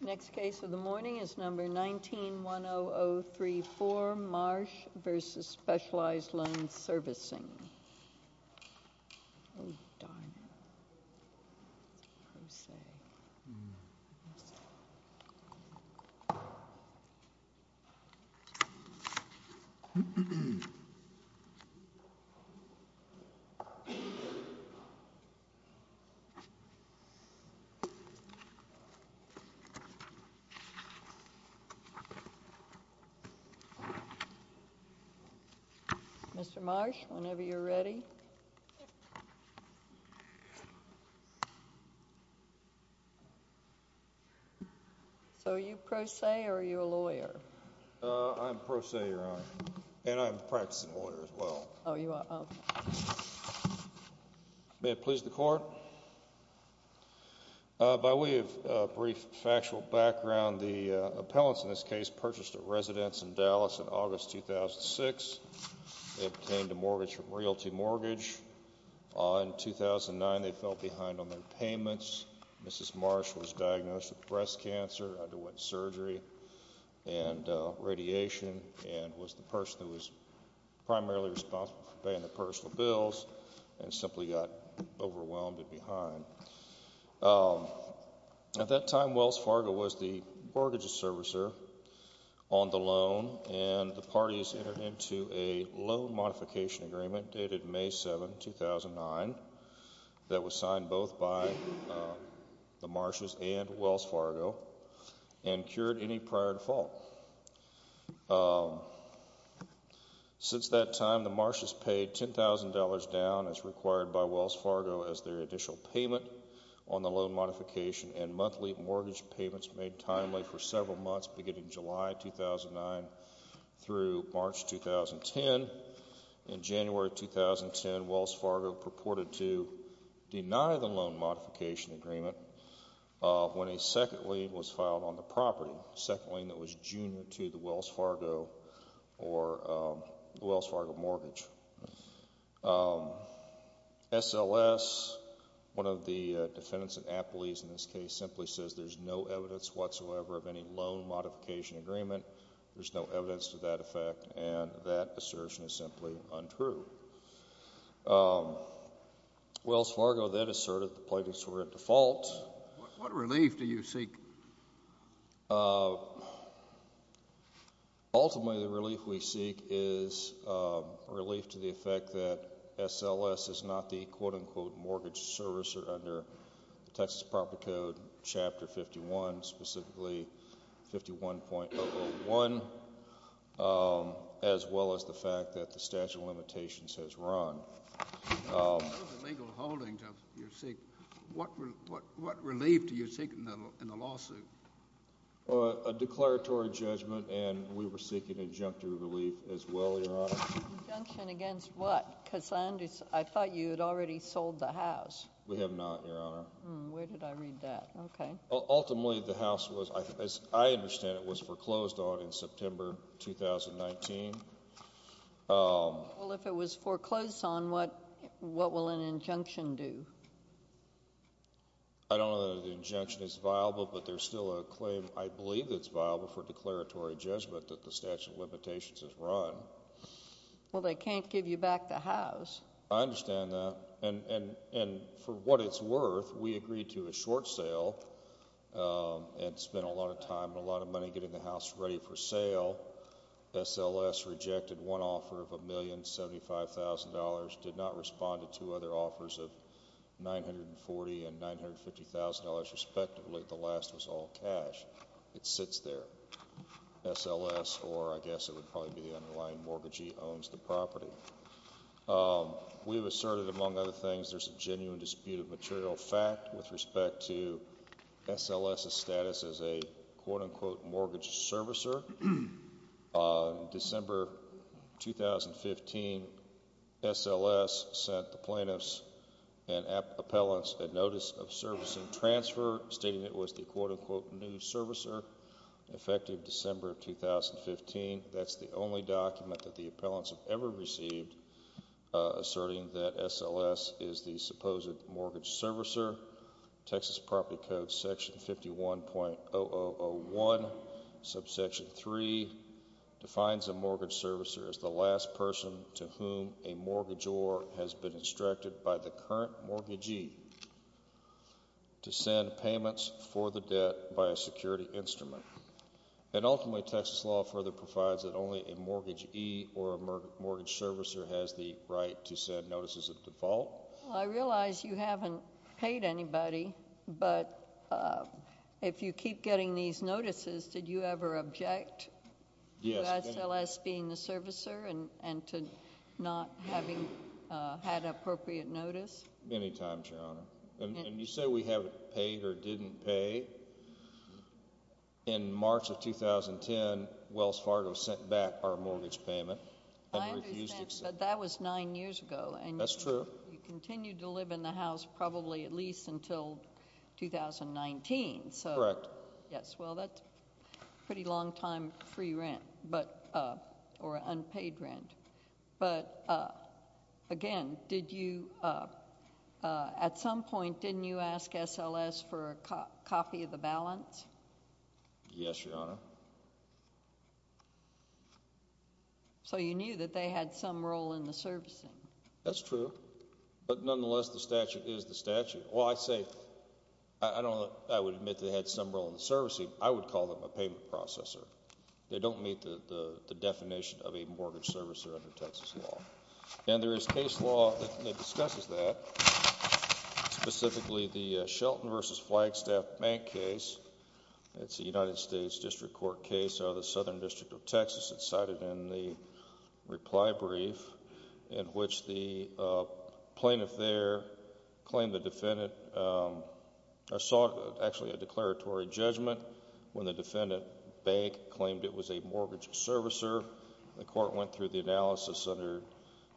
Next case of the morning is number 19-10034, Marsh v. Specialized Loan Servicing. Mr. Marsh, whenever you're ready. So are you pro se or are you a lawyer? I'm pro se, Your Honor, and I'm a practicing lawyer as well. May it please the Court. By way of brief factual background, the appellants in this case purchased a residence in Dallas in August 2006. They obtained a mortgage from Realty Mortgage. In 2009, they fell behind on their payments. Mrs. Marsh was diagnosed with breast cancer, underwent surgery and radiation, and was the person who was primarily responsible for paying the personal bills and simply got overwhelmed and left behind. At that time, Wells Fargo was the mortgage servicer on the loan, and the parties entered into a loan modification agreement dated May 7, 2009, that was signed both by the Marshes and Wells Fargo and cured any prior default. Since that time, the Marshes paid $10,000 down as required by Wells Fargo as their additional payment on the loan modification and monthly mortgage payments made timely for several months beginning July 2009 through March 2010. In January 2010, Wells Fargo purported to deny the loan modification agreement when a second lien was filed on the property, a second lien that was junior to the Wells Fargo or the Wells Fargo mortgage. SLS, one of the defendants of appellees in this case, simply says there's no evidence whatsoever of any loan modification agreement, there's no evidence to that effect, and that assertion is simply untrue. Wells Fargo then asserted the plaintiffs were at default. What relief do you seek? Ultimately, the relief we seek is relief to the effect that SLS is not the quote-unquote mortgage servicer under the Texas Property Code Chapter 51, specifically 51.001, as well as the fact that the statute of limitations has run. Those are legal holdings you seek. What relief do you seek in the lawsuit? A declaratory judgment, and we were seeking injunctive relief as well, Your Honor. Injunction against what? Because I thought you had already sold the house. We have not, Your Honor. Where did I read that? Okay. Ultimately, the house was, as I understand it, was foreclosed on in September 2019. Well, if it was foreclosed on, what will an injunction do? I don't know that an injunction is viable, but there's still a claim I believe that's viable for declaratory judgment that the statute of limitations has run. Well, they can't give you back the house. I understand that, and for what it's worth, we agreed to a short sale and spent a lot of time and a lot of money getting the house ready for sale. SLS rejected one offer of $1,075,000, did not respond to two other offers of $940,000 and $950,000, respectively. The last was all cash. It sits there. SLS, or I guess it would probably be the underlying mortgagee, owns the property. We have asserted, among other things, there's a genuine dispute of material fact with respect to SLS's status as a, quote-unquote, mortgage servicer. December 2015, SLS sent the plaintiffs and appellants a notice of servicing transfer stating it was the, quote-unquote, new servicer, effective December 2015. That's the only document that the appellants have ever received asserting that SLS is the supposed mortgage servicer. Texas Property Code, Section 51.0001, subsection 3, defines a mortgage servicer as the last person to whom a mortgagor has been instructed by the current mortgagee to send payments for the debt by a security instrument. And ultimately, Texas law further provides that only a mortgagee or a mortgage servicer has the right to send notices of default. Well, I realize you haven't paid anybody, but if you keep getting these notices, did you ever object to SLS being the servicer and to not having had appropriate notice? Many times, Your Honor. And you say we haven't paid or didn't pay. In March of 2010, Wells Fargo sent back our mortgage payment and refused to accept it. I understand, but that was nine years ago. That's true. And you continued to live in the house probably at least until 2019, so. Correct. Yes. Well, that's a pretty long time free rent, but, or unpaid rent. But again, did you, at some point, didn't you ask SLS for a copy of the balance? Yes, Your Honor. So you knew that they had some role in the servicing? That's true. But nonetheless, the statute is the statute. Well, I say, I don't, I would admit they had some role in the servicing. I would call them a payment processor. They don't meet the definition of a mortgage servicer under Texas law. And there is case law that discusses that, specifically the Shelton v. Flagstaff Bank case. It's a United States District Court case out of the Southern District of Texas. It's cited in the reply brief, in which the plaintiff there claimed the defendant, saw actually a declaratory judgment when the defendant bank claimed it was a mortgage servicer. The court went through the analysis under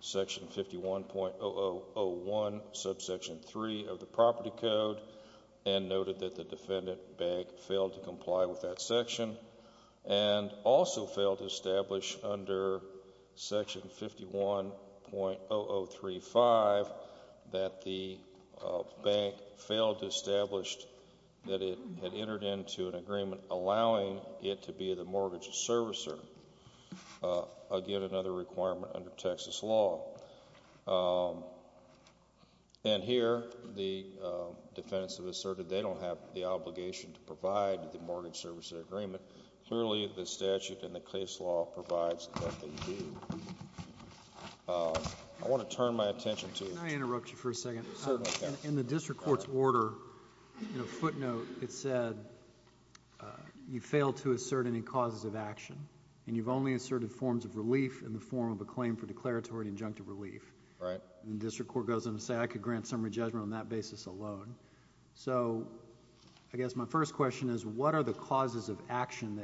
section 51.0001, subsection 3 of the property code, and noted that the defendant bank failed to comply with that section, and also failed to establish under section 51.0035 that the bank failed to establish that it had entered into an agreement allowing it to be the mortgage servicer, again, another requirement under Texas law. And here, the defendants have asserted they don't have the obligation to provide the mortgage servicer agreement. Clearly, the statute and the case law provides that they do. I want to turn my attention to... Can I interrupt you for a second? Certainly. In the district court's order, footnote, it said, you failed to assert any causes of action. And you've only asserted forms of relief in the form of a claim for declaratory and injunctive relief. Right. And the district court goes on to say, I could grant summary judgment on that basis alone. So, I guess my first question is, what are the causes of action?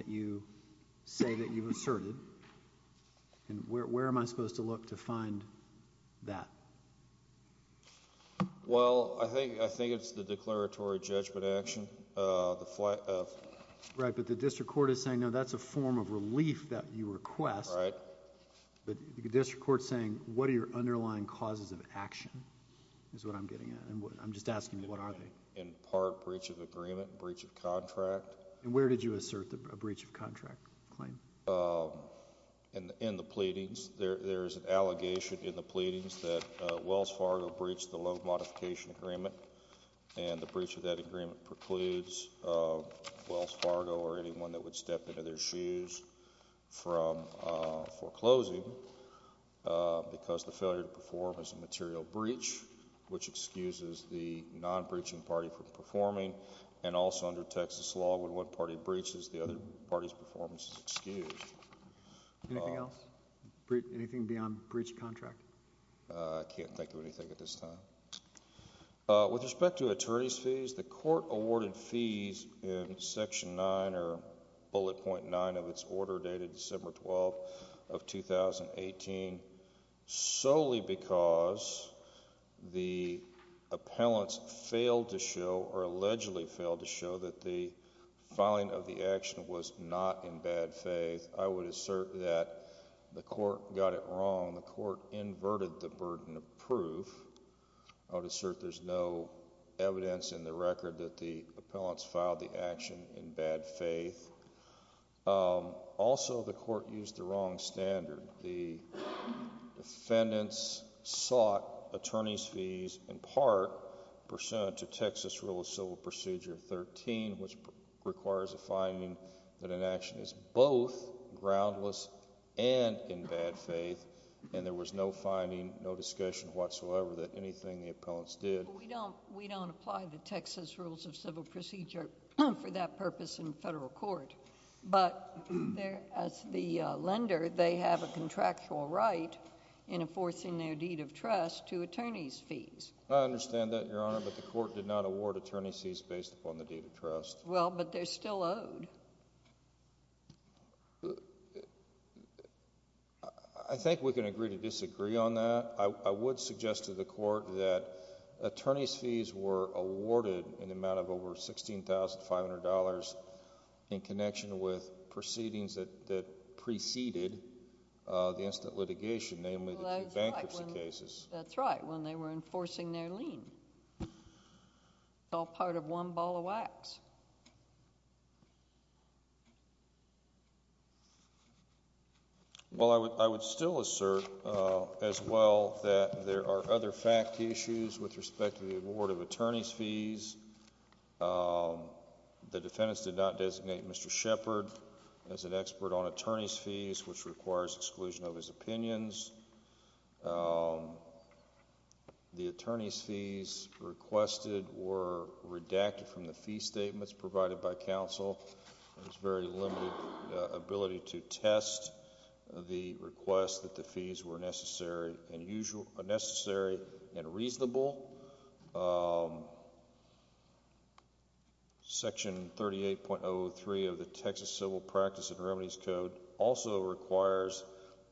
Well, I think it's the declaratory judgment action, the flight of... Right. But the district court is saying, no, that's a form of relief that you request. Right. But the district court's saying, what are your underlying causes of action, is what I'm getting at. I'm just asking, what are they? In part, breach of agreement, breach of contract. And where did you assert a breach of contract claim? In the pleadings. There's an allegation in the pleadings that Wells Fargo breached the loan modification agreement, and the breach of that agreement precludes Wells Fargo or anyone that would step into their shoes from foreclosing because the failure to perform as a material breach, which excuses the non-breaching party from performing. And also under Texas law, when one party breaches, the other party's performance is excused. Anything else? Anything beyond breach of contract? I can't think of anything at this time. With respect to attorney's fees, the court awarded fees in Section 9 or Bullet Point 9 of its order dated December 12 of 2018 solely because the appellants failed to show or allegedly failed to show that the filing of the action was not in bad faith. I would assert that the court got it wrong. The court inverted the burden of proof. I would assert there's no evidence in the record that the appellants filed the action in bad faith. Also the court used the wrong standard. The defendants sought attorney's fees in part pursuant to Texas Rule of Civil Procedure 13, which requires a finding that an action is both groundless and in bad faith, and there was no finding, no discussion whatsoever that anything the appellants did... I understand that, Your Honor, but the court did not award attorney's fees based upon the deed of trust. Well, but they're still owed. I think we can agree to disagree on that. I would suggest to the court that attorney's fees were awarded in the amount of over $16,500 in connection with proceedings that preceded the instant litigation, namely the two bankruptcy cases. That's right, when they were enforcing their lien. Well, I would still assert as well that there are other fact issues with respect to the award of attorney's fees. The defendants did not designate Mr. Shepard as an expert on attorney's fees, which requires exclusion of his opinions. The attorney's fees requested were redacted from the fee statements provided by counsel. There's very limited ability to test the request that the fees were necessary and reasonable. Section 38.03 of the Texas Civil Practice and Remedies Code also requires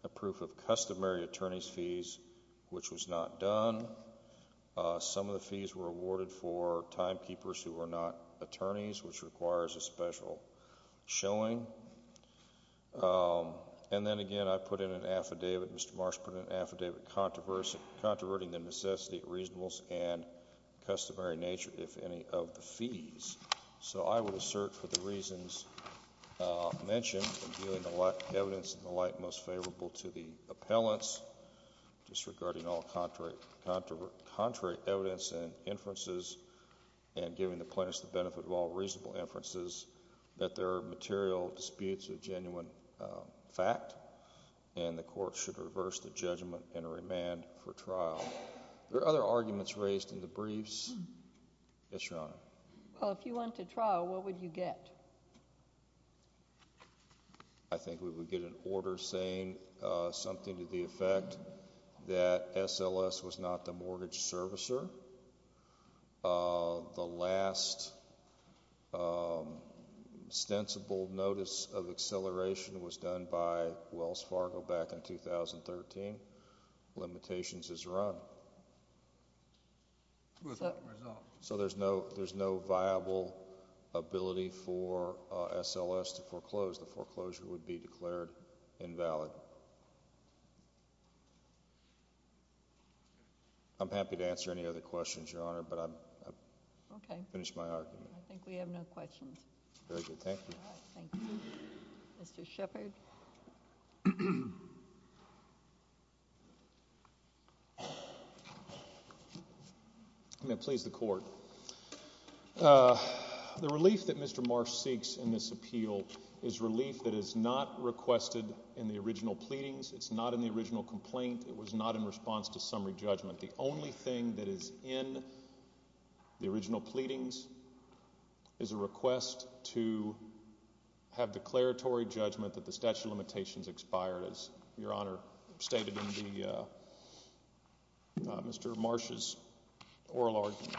a proof of customary attorney's fees, which was not done. Some of the fees were awarded for timekeepers who were not attorneys, which requires a special showing. And then again, I put in an affidavit, Mr. Marsh put in an affidavit controverting the necessity, reasonableness, and customary nature, if any, of the fees. So I would assert for the reasons mentioned in viewing the evidence in the light most favorable to the appellants, disregarding all contrary evidence and inferences, and giving the plaintiffs the benefit of all reasonable inferences, that there are material disputes and there is a genuine fact. And the court should reverse the judgment and remand for trial. Are there other arguments raised in the briefs? Yes, Your Honor. Well, if you went to trial, what would you get? I think we would get an order saying something to the effect that SLS was not the mortgage done by Wells Fargo back in 2013, limitations is run. So there's no viable ability for SLS to foreclose. The foreclosure would be declared invalid. I'm happy to answer any other questions, Your Honor, but I finished my argument. Okay. I think we have no questions. Very good. Thank you. All right. Thank you. Mr. Shepard. May I please the court? The relief that Mr. Marsh seeks in this appeal is relief that is not requested in the original pleadings. It's not in the original complaint. It was not in response to summary judgment. The only thing that is in the original pleadings is a request to have declaratory judgment that the statute of limitations expired, as Your Honor stated in Mr. Marsh's oral argument.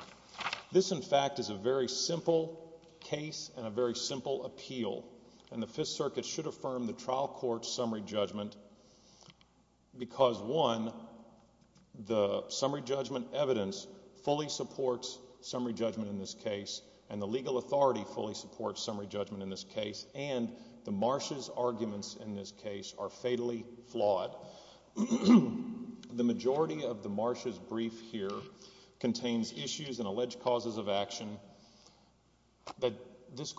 This in fact is a very simple case and a very simple appeal, and the Fifth Circuit should affirm the trial court's summary judgment because, one, the summary judgment evidence fully supports summary judgment in this case, and the legal authority fully supports summary judgment in this case, and the Marsh's arguments in this case are fatally flawed. The majority of the Marsh's brief here contains issues and alleged causes of action that this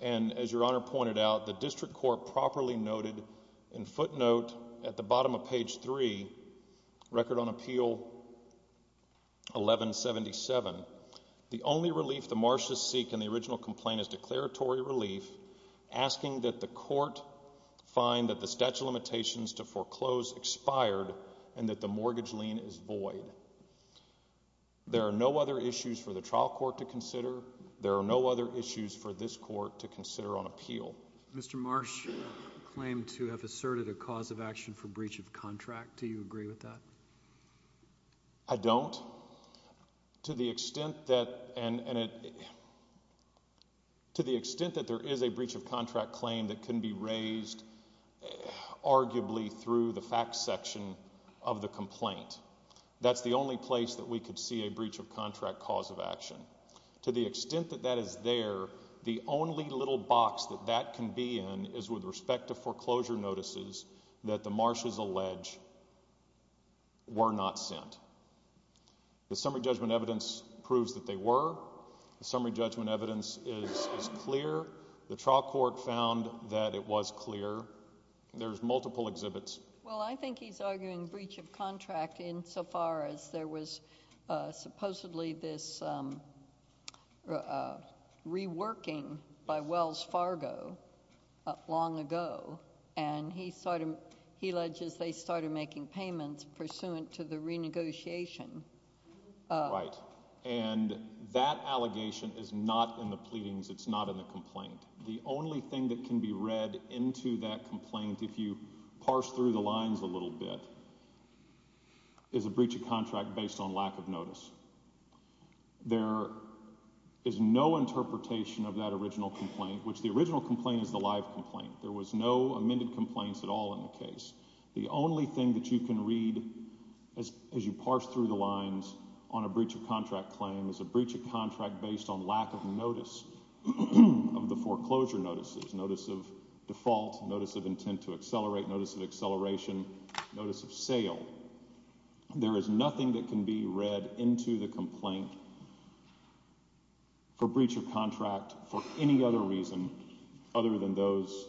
And, as Your Honor pointed out, the district court properly noted in footnote at the bottom of page 3, record on appeal 1177, the only relief the Marsh's seek in the original complaint is declaratory relief, asking that the court find that the statute of limitations to foreclose expired and that the mortgage lien is void. There are no other issues for the trial court to consider. There are no other issues for this court to consider on appeal. Mr. Marsh claimed to have asserted a cause of action for breach of contract. Do you agree with that? I don't. To the extent that there is a breach of contract claim that can be raised arguably through the facts section of the complaint. That's the only place that we could see a breach of contract cause of action. To the extent that that is there, the only little box that that can be in is with respect to foreclosure notices that the Marsh's allege were not sent. The summary judgment evidence proves that they were. The summary judgment evidence is clear. The trial court found that it was clear. There's multiple exhibits. Well, I think he's arguing breach of contract insofar as there was supposedly this reworking by Wells Fargo long ago. And he alleges they started making payments pursuant to the renegotiation. Right. And that allegation is not in the pleadings. It's not in the complaint. The only thing that can be read into that complaint, if you parse through the lines a little bit, is a breach of contract based on lack of notice. There is no interpretation of that original complaint, which the original complaint is the live complaint. There was no amended complaints at all in the case. The only thing that you can read as you parse through the lines on a breach of contract claim is a breach of contract based on lack of notice of the foreclosure notices, notice of default, notice of intent to accelerate, notice of acceleration, notice of sale. There is nothing that can be read into the complaint for breach of contract for any other reason other than those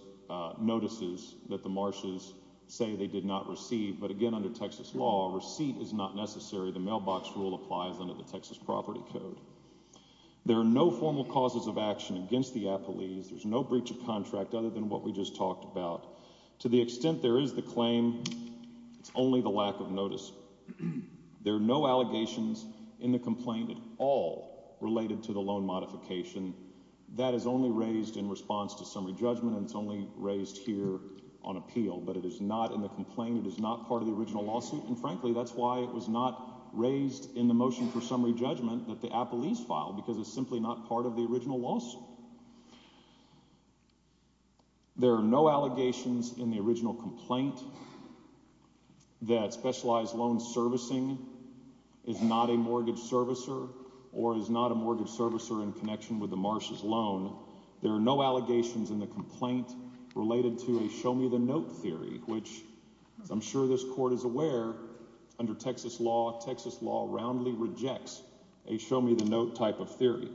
notices that the Marsh's say they did not receive. But again, under Texas law, receipt is not necessary. The mailbox rule applies under the Texas property code. There are no formal causes of action against the appellees. There's no breach of contract other than what we just talked about. To the extent there is the claim, it's only the lack of notice. There are no allegations in the complaint at all related to the loan modification. That is only raised in response to summary judgment and it's only raised here on appeal. But it is not in the complaint. It is not part of the original lawsuit. And frankly, that's why it was not raised in the motion for summary judgment that the appellees filed because it's simply not part of the original lawsuit. There are no allegations in the original complaint that specialized loan servicing is not a mortgage servicer or is not a mortgage servicer in connection with the Marsh's loan. There are no allegations in the complaint related to a show me the note theory, which I'm sure this court is aware, under Texas law, Texas law roundly rejects a show me the note type of theory.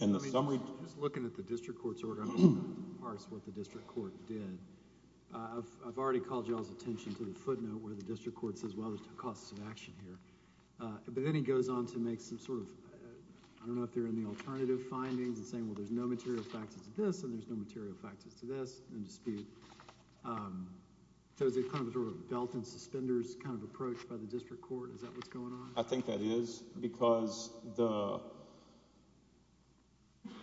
In the summary... Just looking at the district court's order, I'm going to parse what the district court did. I've already called y'all's attention to the footnote where the district court says, well, there's no causes of action here. But then he goes on to make some sort of, I don't know if they're in the alternative findings and saying, well, there's no material faxes to this and there's no material faxes to this. No dispute. So is it kind of a sort of belt and suspenders kind of approach by the district court? Is that what's going on? I think that is because the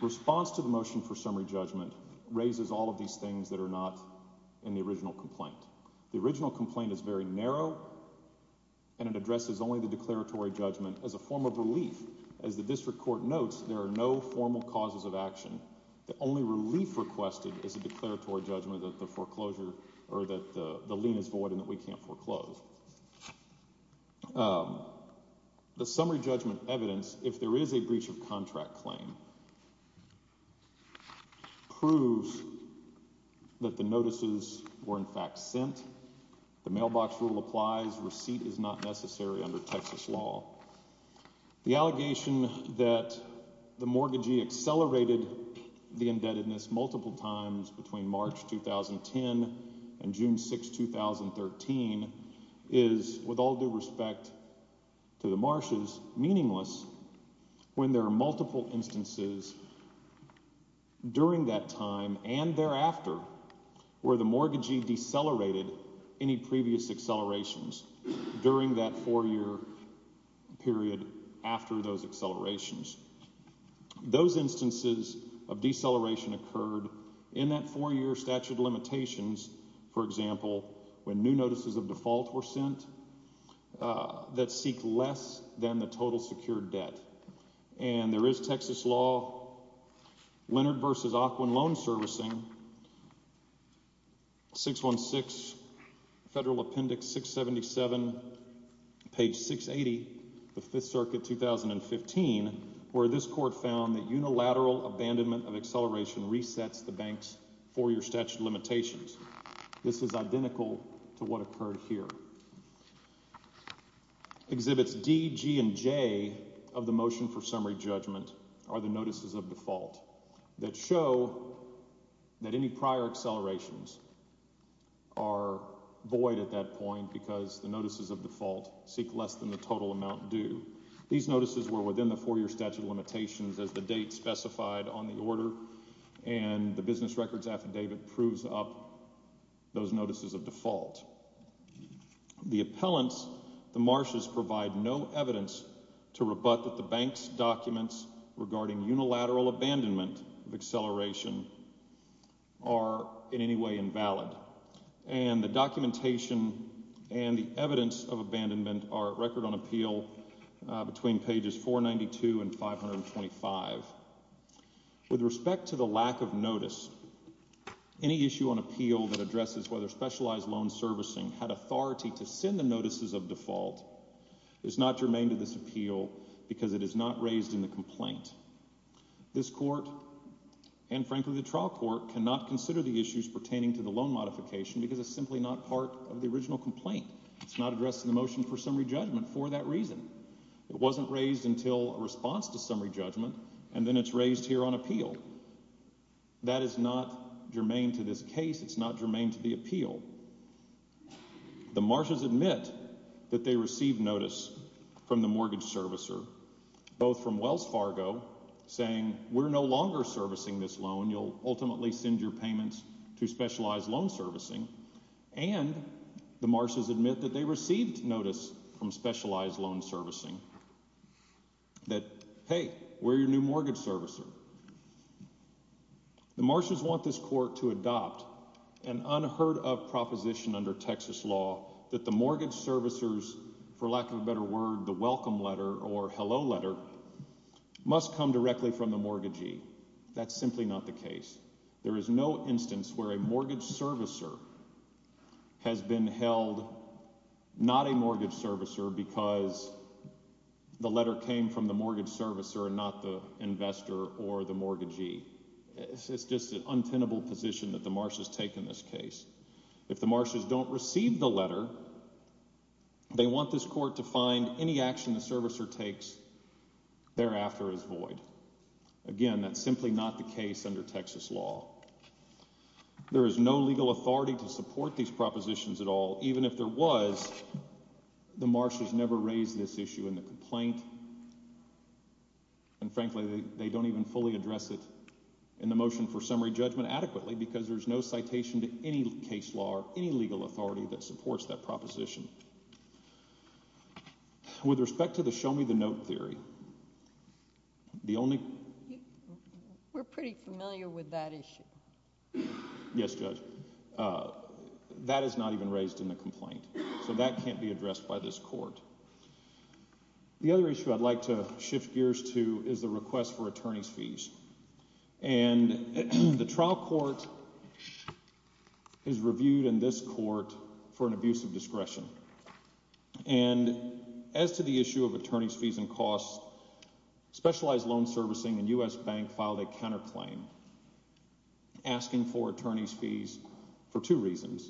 response to the motion for summary judgment raises all of these things that are not in the original complaint. The original complaint is very narrow and it addresses only the declaratory judgment as a form of relief. As the district court notes, there are no formal causes of action. The only relief requested is a declaratory judgment that the foreclosure or that the lien is void and that we can't foreclose. The summary judgment evidence, if there is a breach of contract claim, proves that the notices were in fact sent. The mailbox rule applies. Receipt is not necessary under Texas law. The allegation that the mortgagee accelerated the indebtedness multiple times between March 2010 and June 6, 2013 is, with all due respect to the Marshes, meaningless when there are multiple instances during that time and thereafter where the mortgagee decelerated any previous accelerations during that four-year period after those accelerations. Those instances of deceleration occurred in that four-year statute of limitations, for example, when new notices of default were sent that seek less than the total secured debt. And there is Texas law, Leonard v. Ockwin Loan Servicing, 616 Federal Appendix 677, page 680, the Fifth Circuit, 2015, where this court found that unilateral abandonment of acceleration resets the bank's four-year statute of limitations. This is identical to what occurred here. Exhibits D, G, and J of the motion for summary judgment are the notices of default that show that any prior accelerations are void at that point because the notices of default seek less than the total amount due. These notices were within the four-year statute of limitations as the date specified on the The appellants, the marshals, provide no evidence to rebut that the bank's documents regarding unilateral abandonment of acceleration are in any way invalid. And the documentation and the evidence of abandonment are at record on appeal between pages 492 and 525. With respect to the lack of notice, any issue on appeal that addresses whether specialized loan servicing had authority to send the notices of default is not germane to this appeal because it is not raised in the complaint. This court, and frankly the trial court, cannot consider the issues pertaining to the loan modification because it's simply not part of the original complaint. It's not addressed in the motion for summary judgment for that reason. It wasn't raised until a response to summary judgment, and then it's raised here on appeal. That is not germane to this case. It's not germane to the appeal. The marshals admit that they received notice from the mortgage servicer, both from Wells Fargo saying, we're no longer servicing this loan, you'll ultimately send your payments to specialized loan servicing, and the marshals admit that they received notice from specialized loan servicing that, hey, we're your new mortgage servicer. The marshals want this court to adopt an unheard-of proposition under Texas law that the mortgage servicers, for lack of a better word, the welcome letter or hello letter, must come directly from the mortgagee. That's simply not the case. There is no instance where a mortgage servicer has been held not a mortgage servicer because the letter came from the mortgage servicer and not the investor or the mortgagee. It's just an untenable position that the marshals take in this case. If the marshals don't receive the letter, they want this court to find any action the servicer takes thereafter is void. Again, that's simply not the case under Texas law. There is no legal authority to support these propositions at all, even if there was, the marshals see this issue in the complaint, and frankly, they don't even fully address it in the motion for summary judgment adequately because there's no citation to any case law or any legal authority that supports that proposition. With respect to the show-me-the-note theory, the only... We're pretty familiar with that issue. Yes, Judge. That is not even raised in the complaint, so that can't be addressed by this court. The other issue I'd like to shift gears to is the request for attorney's fees. The trial court is reviewed in this court for an abuse of discretion. As to the issue of attorney's fees and costs, Specialized Loan Servicing and U.S. Bank filed a counterclaim asking for attorney's fees for two reasons.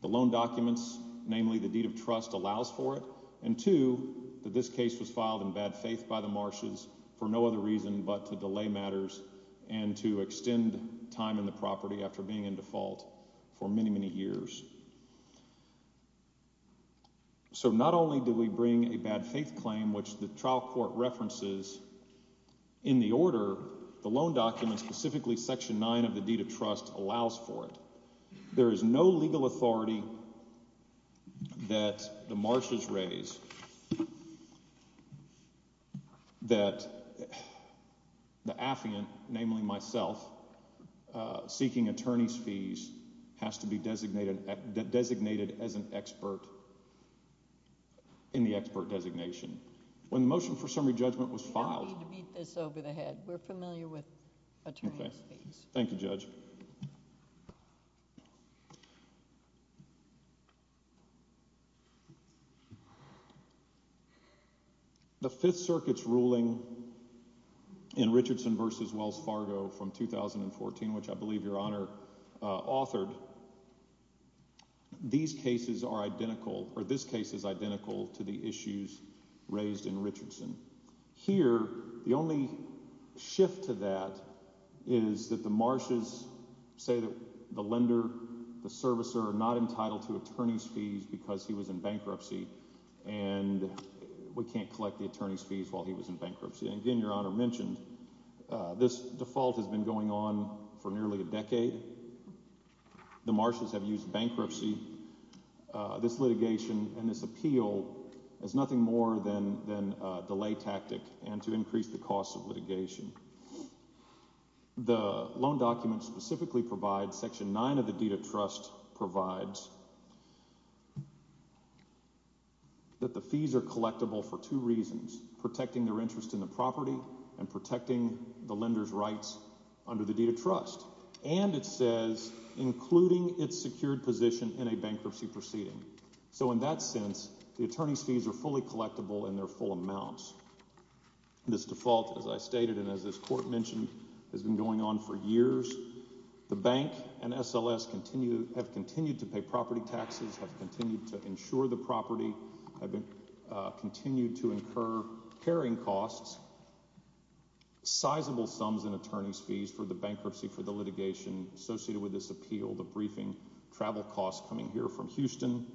The loan documents, namely the deed of trust, allows for it, and two, that this case was filed in bad faith by the marshals for no other reason but to delay matters and to extend time in the property after being in default for many, many years. So, not only do we bring a bad faith claim, which the trial court references in the order, the loan documents, specifically Section 9 of the deed of trust, allows for it. There is no legal authority that the marshals raise that the affiant, namely myself, seeking attorney's fees has to be designated as an expert in the expert designation. When the motion for summary judgment was filed... I don't need to beat this over the head. We're familiar with attorney's fees. Thank you, Judge. The Fifth Circuit's ruling in Richardson v. Wells Fargo from 2014, which I believe Your Honor authored, these cases are identical, or this case is identical, to the issues raised in Richardson. Here, the only shift to that is that the marshals say that the lender, the servicer, are not entitled to attorney's fees because he was in bankruptcy, and we can't collect the attorney's fees while he was in bankruptcy. Again, Your Honor mentioned, this default has been going on for nearly a decade. The marshals have used bankruptcy, this litigation, and this appeal as nothing more than a delay tactic and to increase the cost of litigation. The loan documents specifically provide, Section 9 of the deed of trust provides, that the and protecting the lender's rights under the deed of trust. And it says, including its secured position in a bankruptcy proceeding. So in that sense, the attorney's fees are fully collectible in their full amounts. This default, as I stated, and as this court mentioned, has been going on for years. The bank and SLS have continued to pay property taxes, have continued to insure the property, have continued to incur carrying costs, sizable sums in attorney's fees for the bankruptcy for the litigation associated with this appeal, the briefing, travel costs coming here from Houston.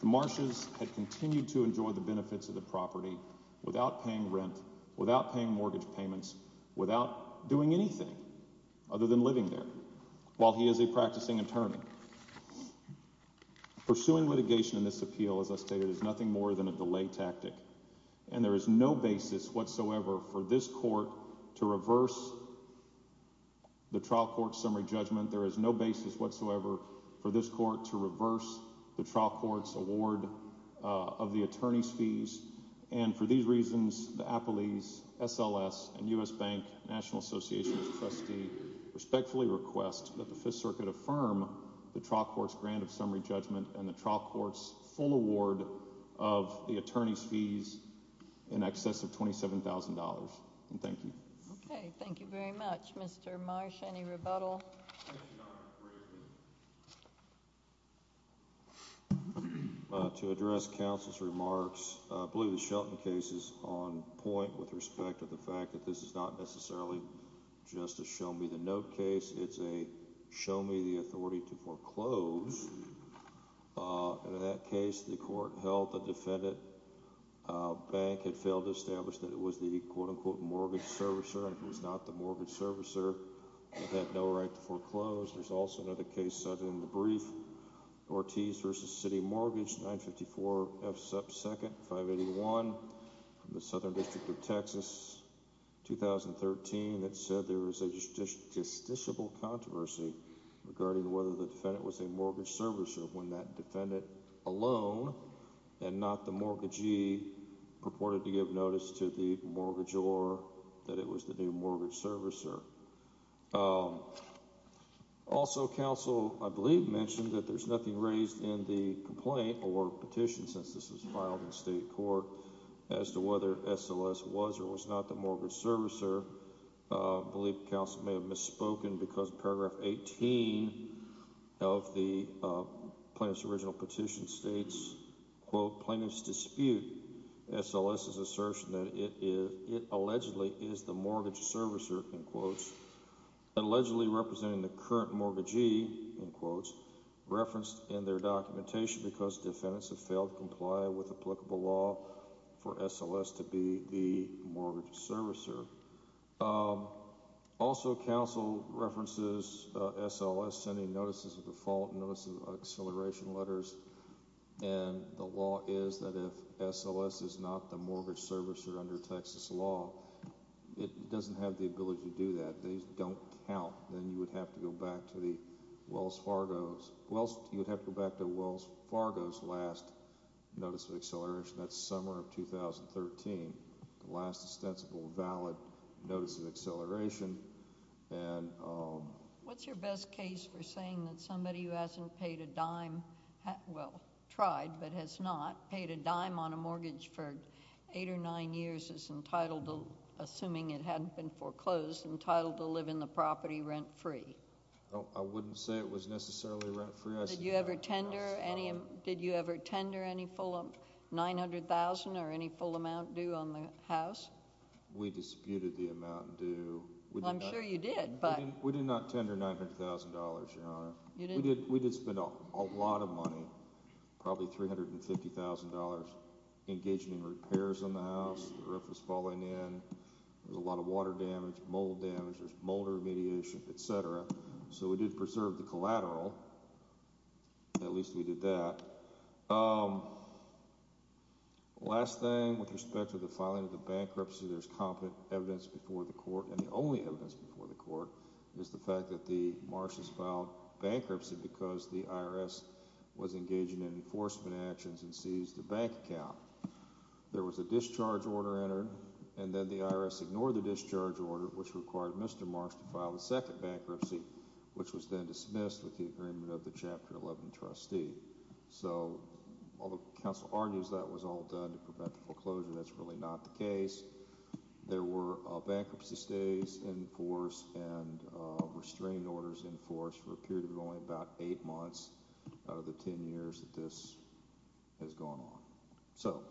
The marshals have continued to enjoy the benefits of the property without paying rent, without paying mortgage payments, without doing anything other than living there while he is a practicing attorney. Pursuing litigation in this appeal, as I stated, is nothing more than a delay tactic. And there is no basis whatsoever for this court to reverse the trial court's summary judgment. There is no basis whatsoever for this court to reverse the trial court's award of the attorney's fees. And for these reasons, the Apolese, SLS, and U.S. Bank National Association's trustee respectfully request that the Fifth Circuit affirm the trial court's grant of summary judgment and the trial court's full award of the attorney's fees in excess of $27,000. And thank you. Okay, thank you very much. Mr. Marsh, any rebuttal? To address counsel's remarks, I believe the Shelton case is on point with respect to the fact that this is not necessarily just a show-me-the-note case. It's a show-me-the-authority-to-foreclose. And in that case, the court held the defendant bank had failed to establish that it was the quote-unquote mortgage servicer. And if it was not the mortgage servicer, it had no right to foreclose. There's also another case cited in the brief, Ortiz v. City Mortgage, 954 F. Sep. 2nd, 581, from the Southern District of Texas, 2013, that said there was a justiciable controversy regarding whether the defendant was a mortgage servicer when that defendant alone, and not the mortgagee, purported to give notice to the mortgagor that it was the new mortgage servicer. Also, counsel, I believe, mentioned that there's nothing raised in the complaint or petition since this was filed in state court as to whether SLS was or was not the mortgage servicer. I believe counsel may have misspoken because paragraph 18 of the plaintiff's original petition states, quote, plaintiff's dispute SLS's assertion that it allegedly is the mortgage servicer, unquote, allegedly representing the current mortgagee, unquote, referenced in their documentation because defendants have failed to comply with applicable law for SLS to be the mortgage servicer. Also, counsel references SLS sending notices of default, notices of exhilaration letters, and the law is that if SLS is not the mortgage servicer under Texas law, it doesn't have the ability to do that. If these don't count, then you would have to go back to Wells Fargo's last notice of exhilaration. That's summer of 2013, the last ostensible valid notice of exhilaration. What's your best case for saying that somebody who hasn't paid a dime, well, tried, but has not paid a dime on a mortgage for eight or nine years is entitled, assuming it hadn't been foreclosed, entitled to live in the property rent-free? I wouldn't say it was necessarily rent-free. Did you ever tender any full 900,000 or any full amount due on the house? We disputed the amount due. I'm sure you did, but... We did not tender $900,000, Your Honor. We did spend a lot of money, probably $350,000, engaging in repairs on the house. The roof was falling in. There was a lot of water damage, mold damage. There was mold remediation, etc. So we did preserve the collateral. At least we did that. Last thing with respect to the filing of the bankruptcy, there's competent evidence before the court, and the only evidence before the court is the fact that the Marshals filed bankruptcy because the IRS was engaging in enforcement actions and seized a bank account. There was a discharge order entered, and then the IRS ignored the discharge order, which required Mr. Marsh to file a second bankruptcy, which was then dismissed with the agreement of the Chapter 11 trustee. So, although counsel argues that was all done to prevent foreclosure, that's really not the case. There were bankruptcy stays in force and restrained orders in force for a period of only about eight months out of the ten years that this has gone on. So,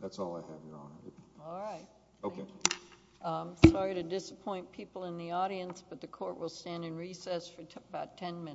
that's all I have, Your Honor. All right. Okay. Sorry to disappoint people in the audience, but the court will stand in recess for about ten minutes.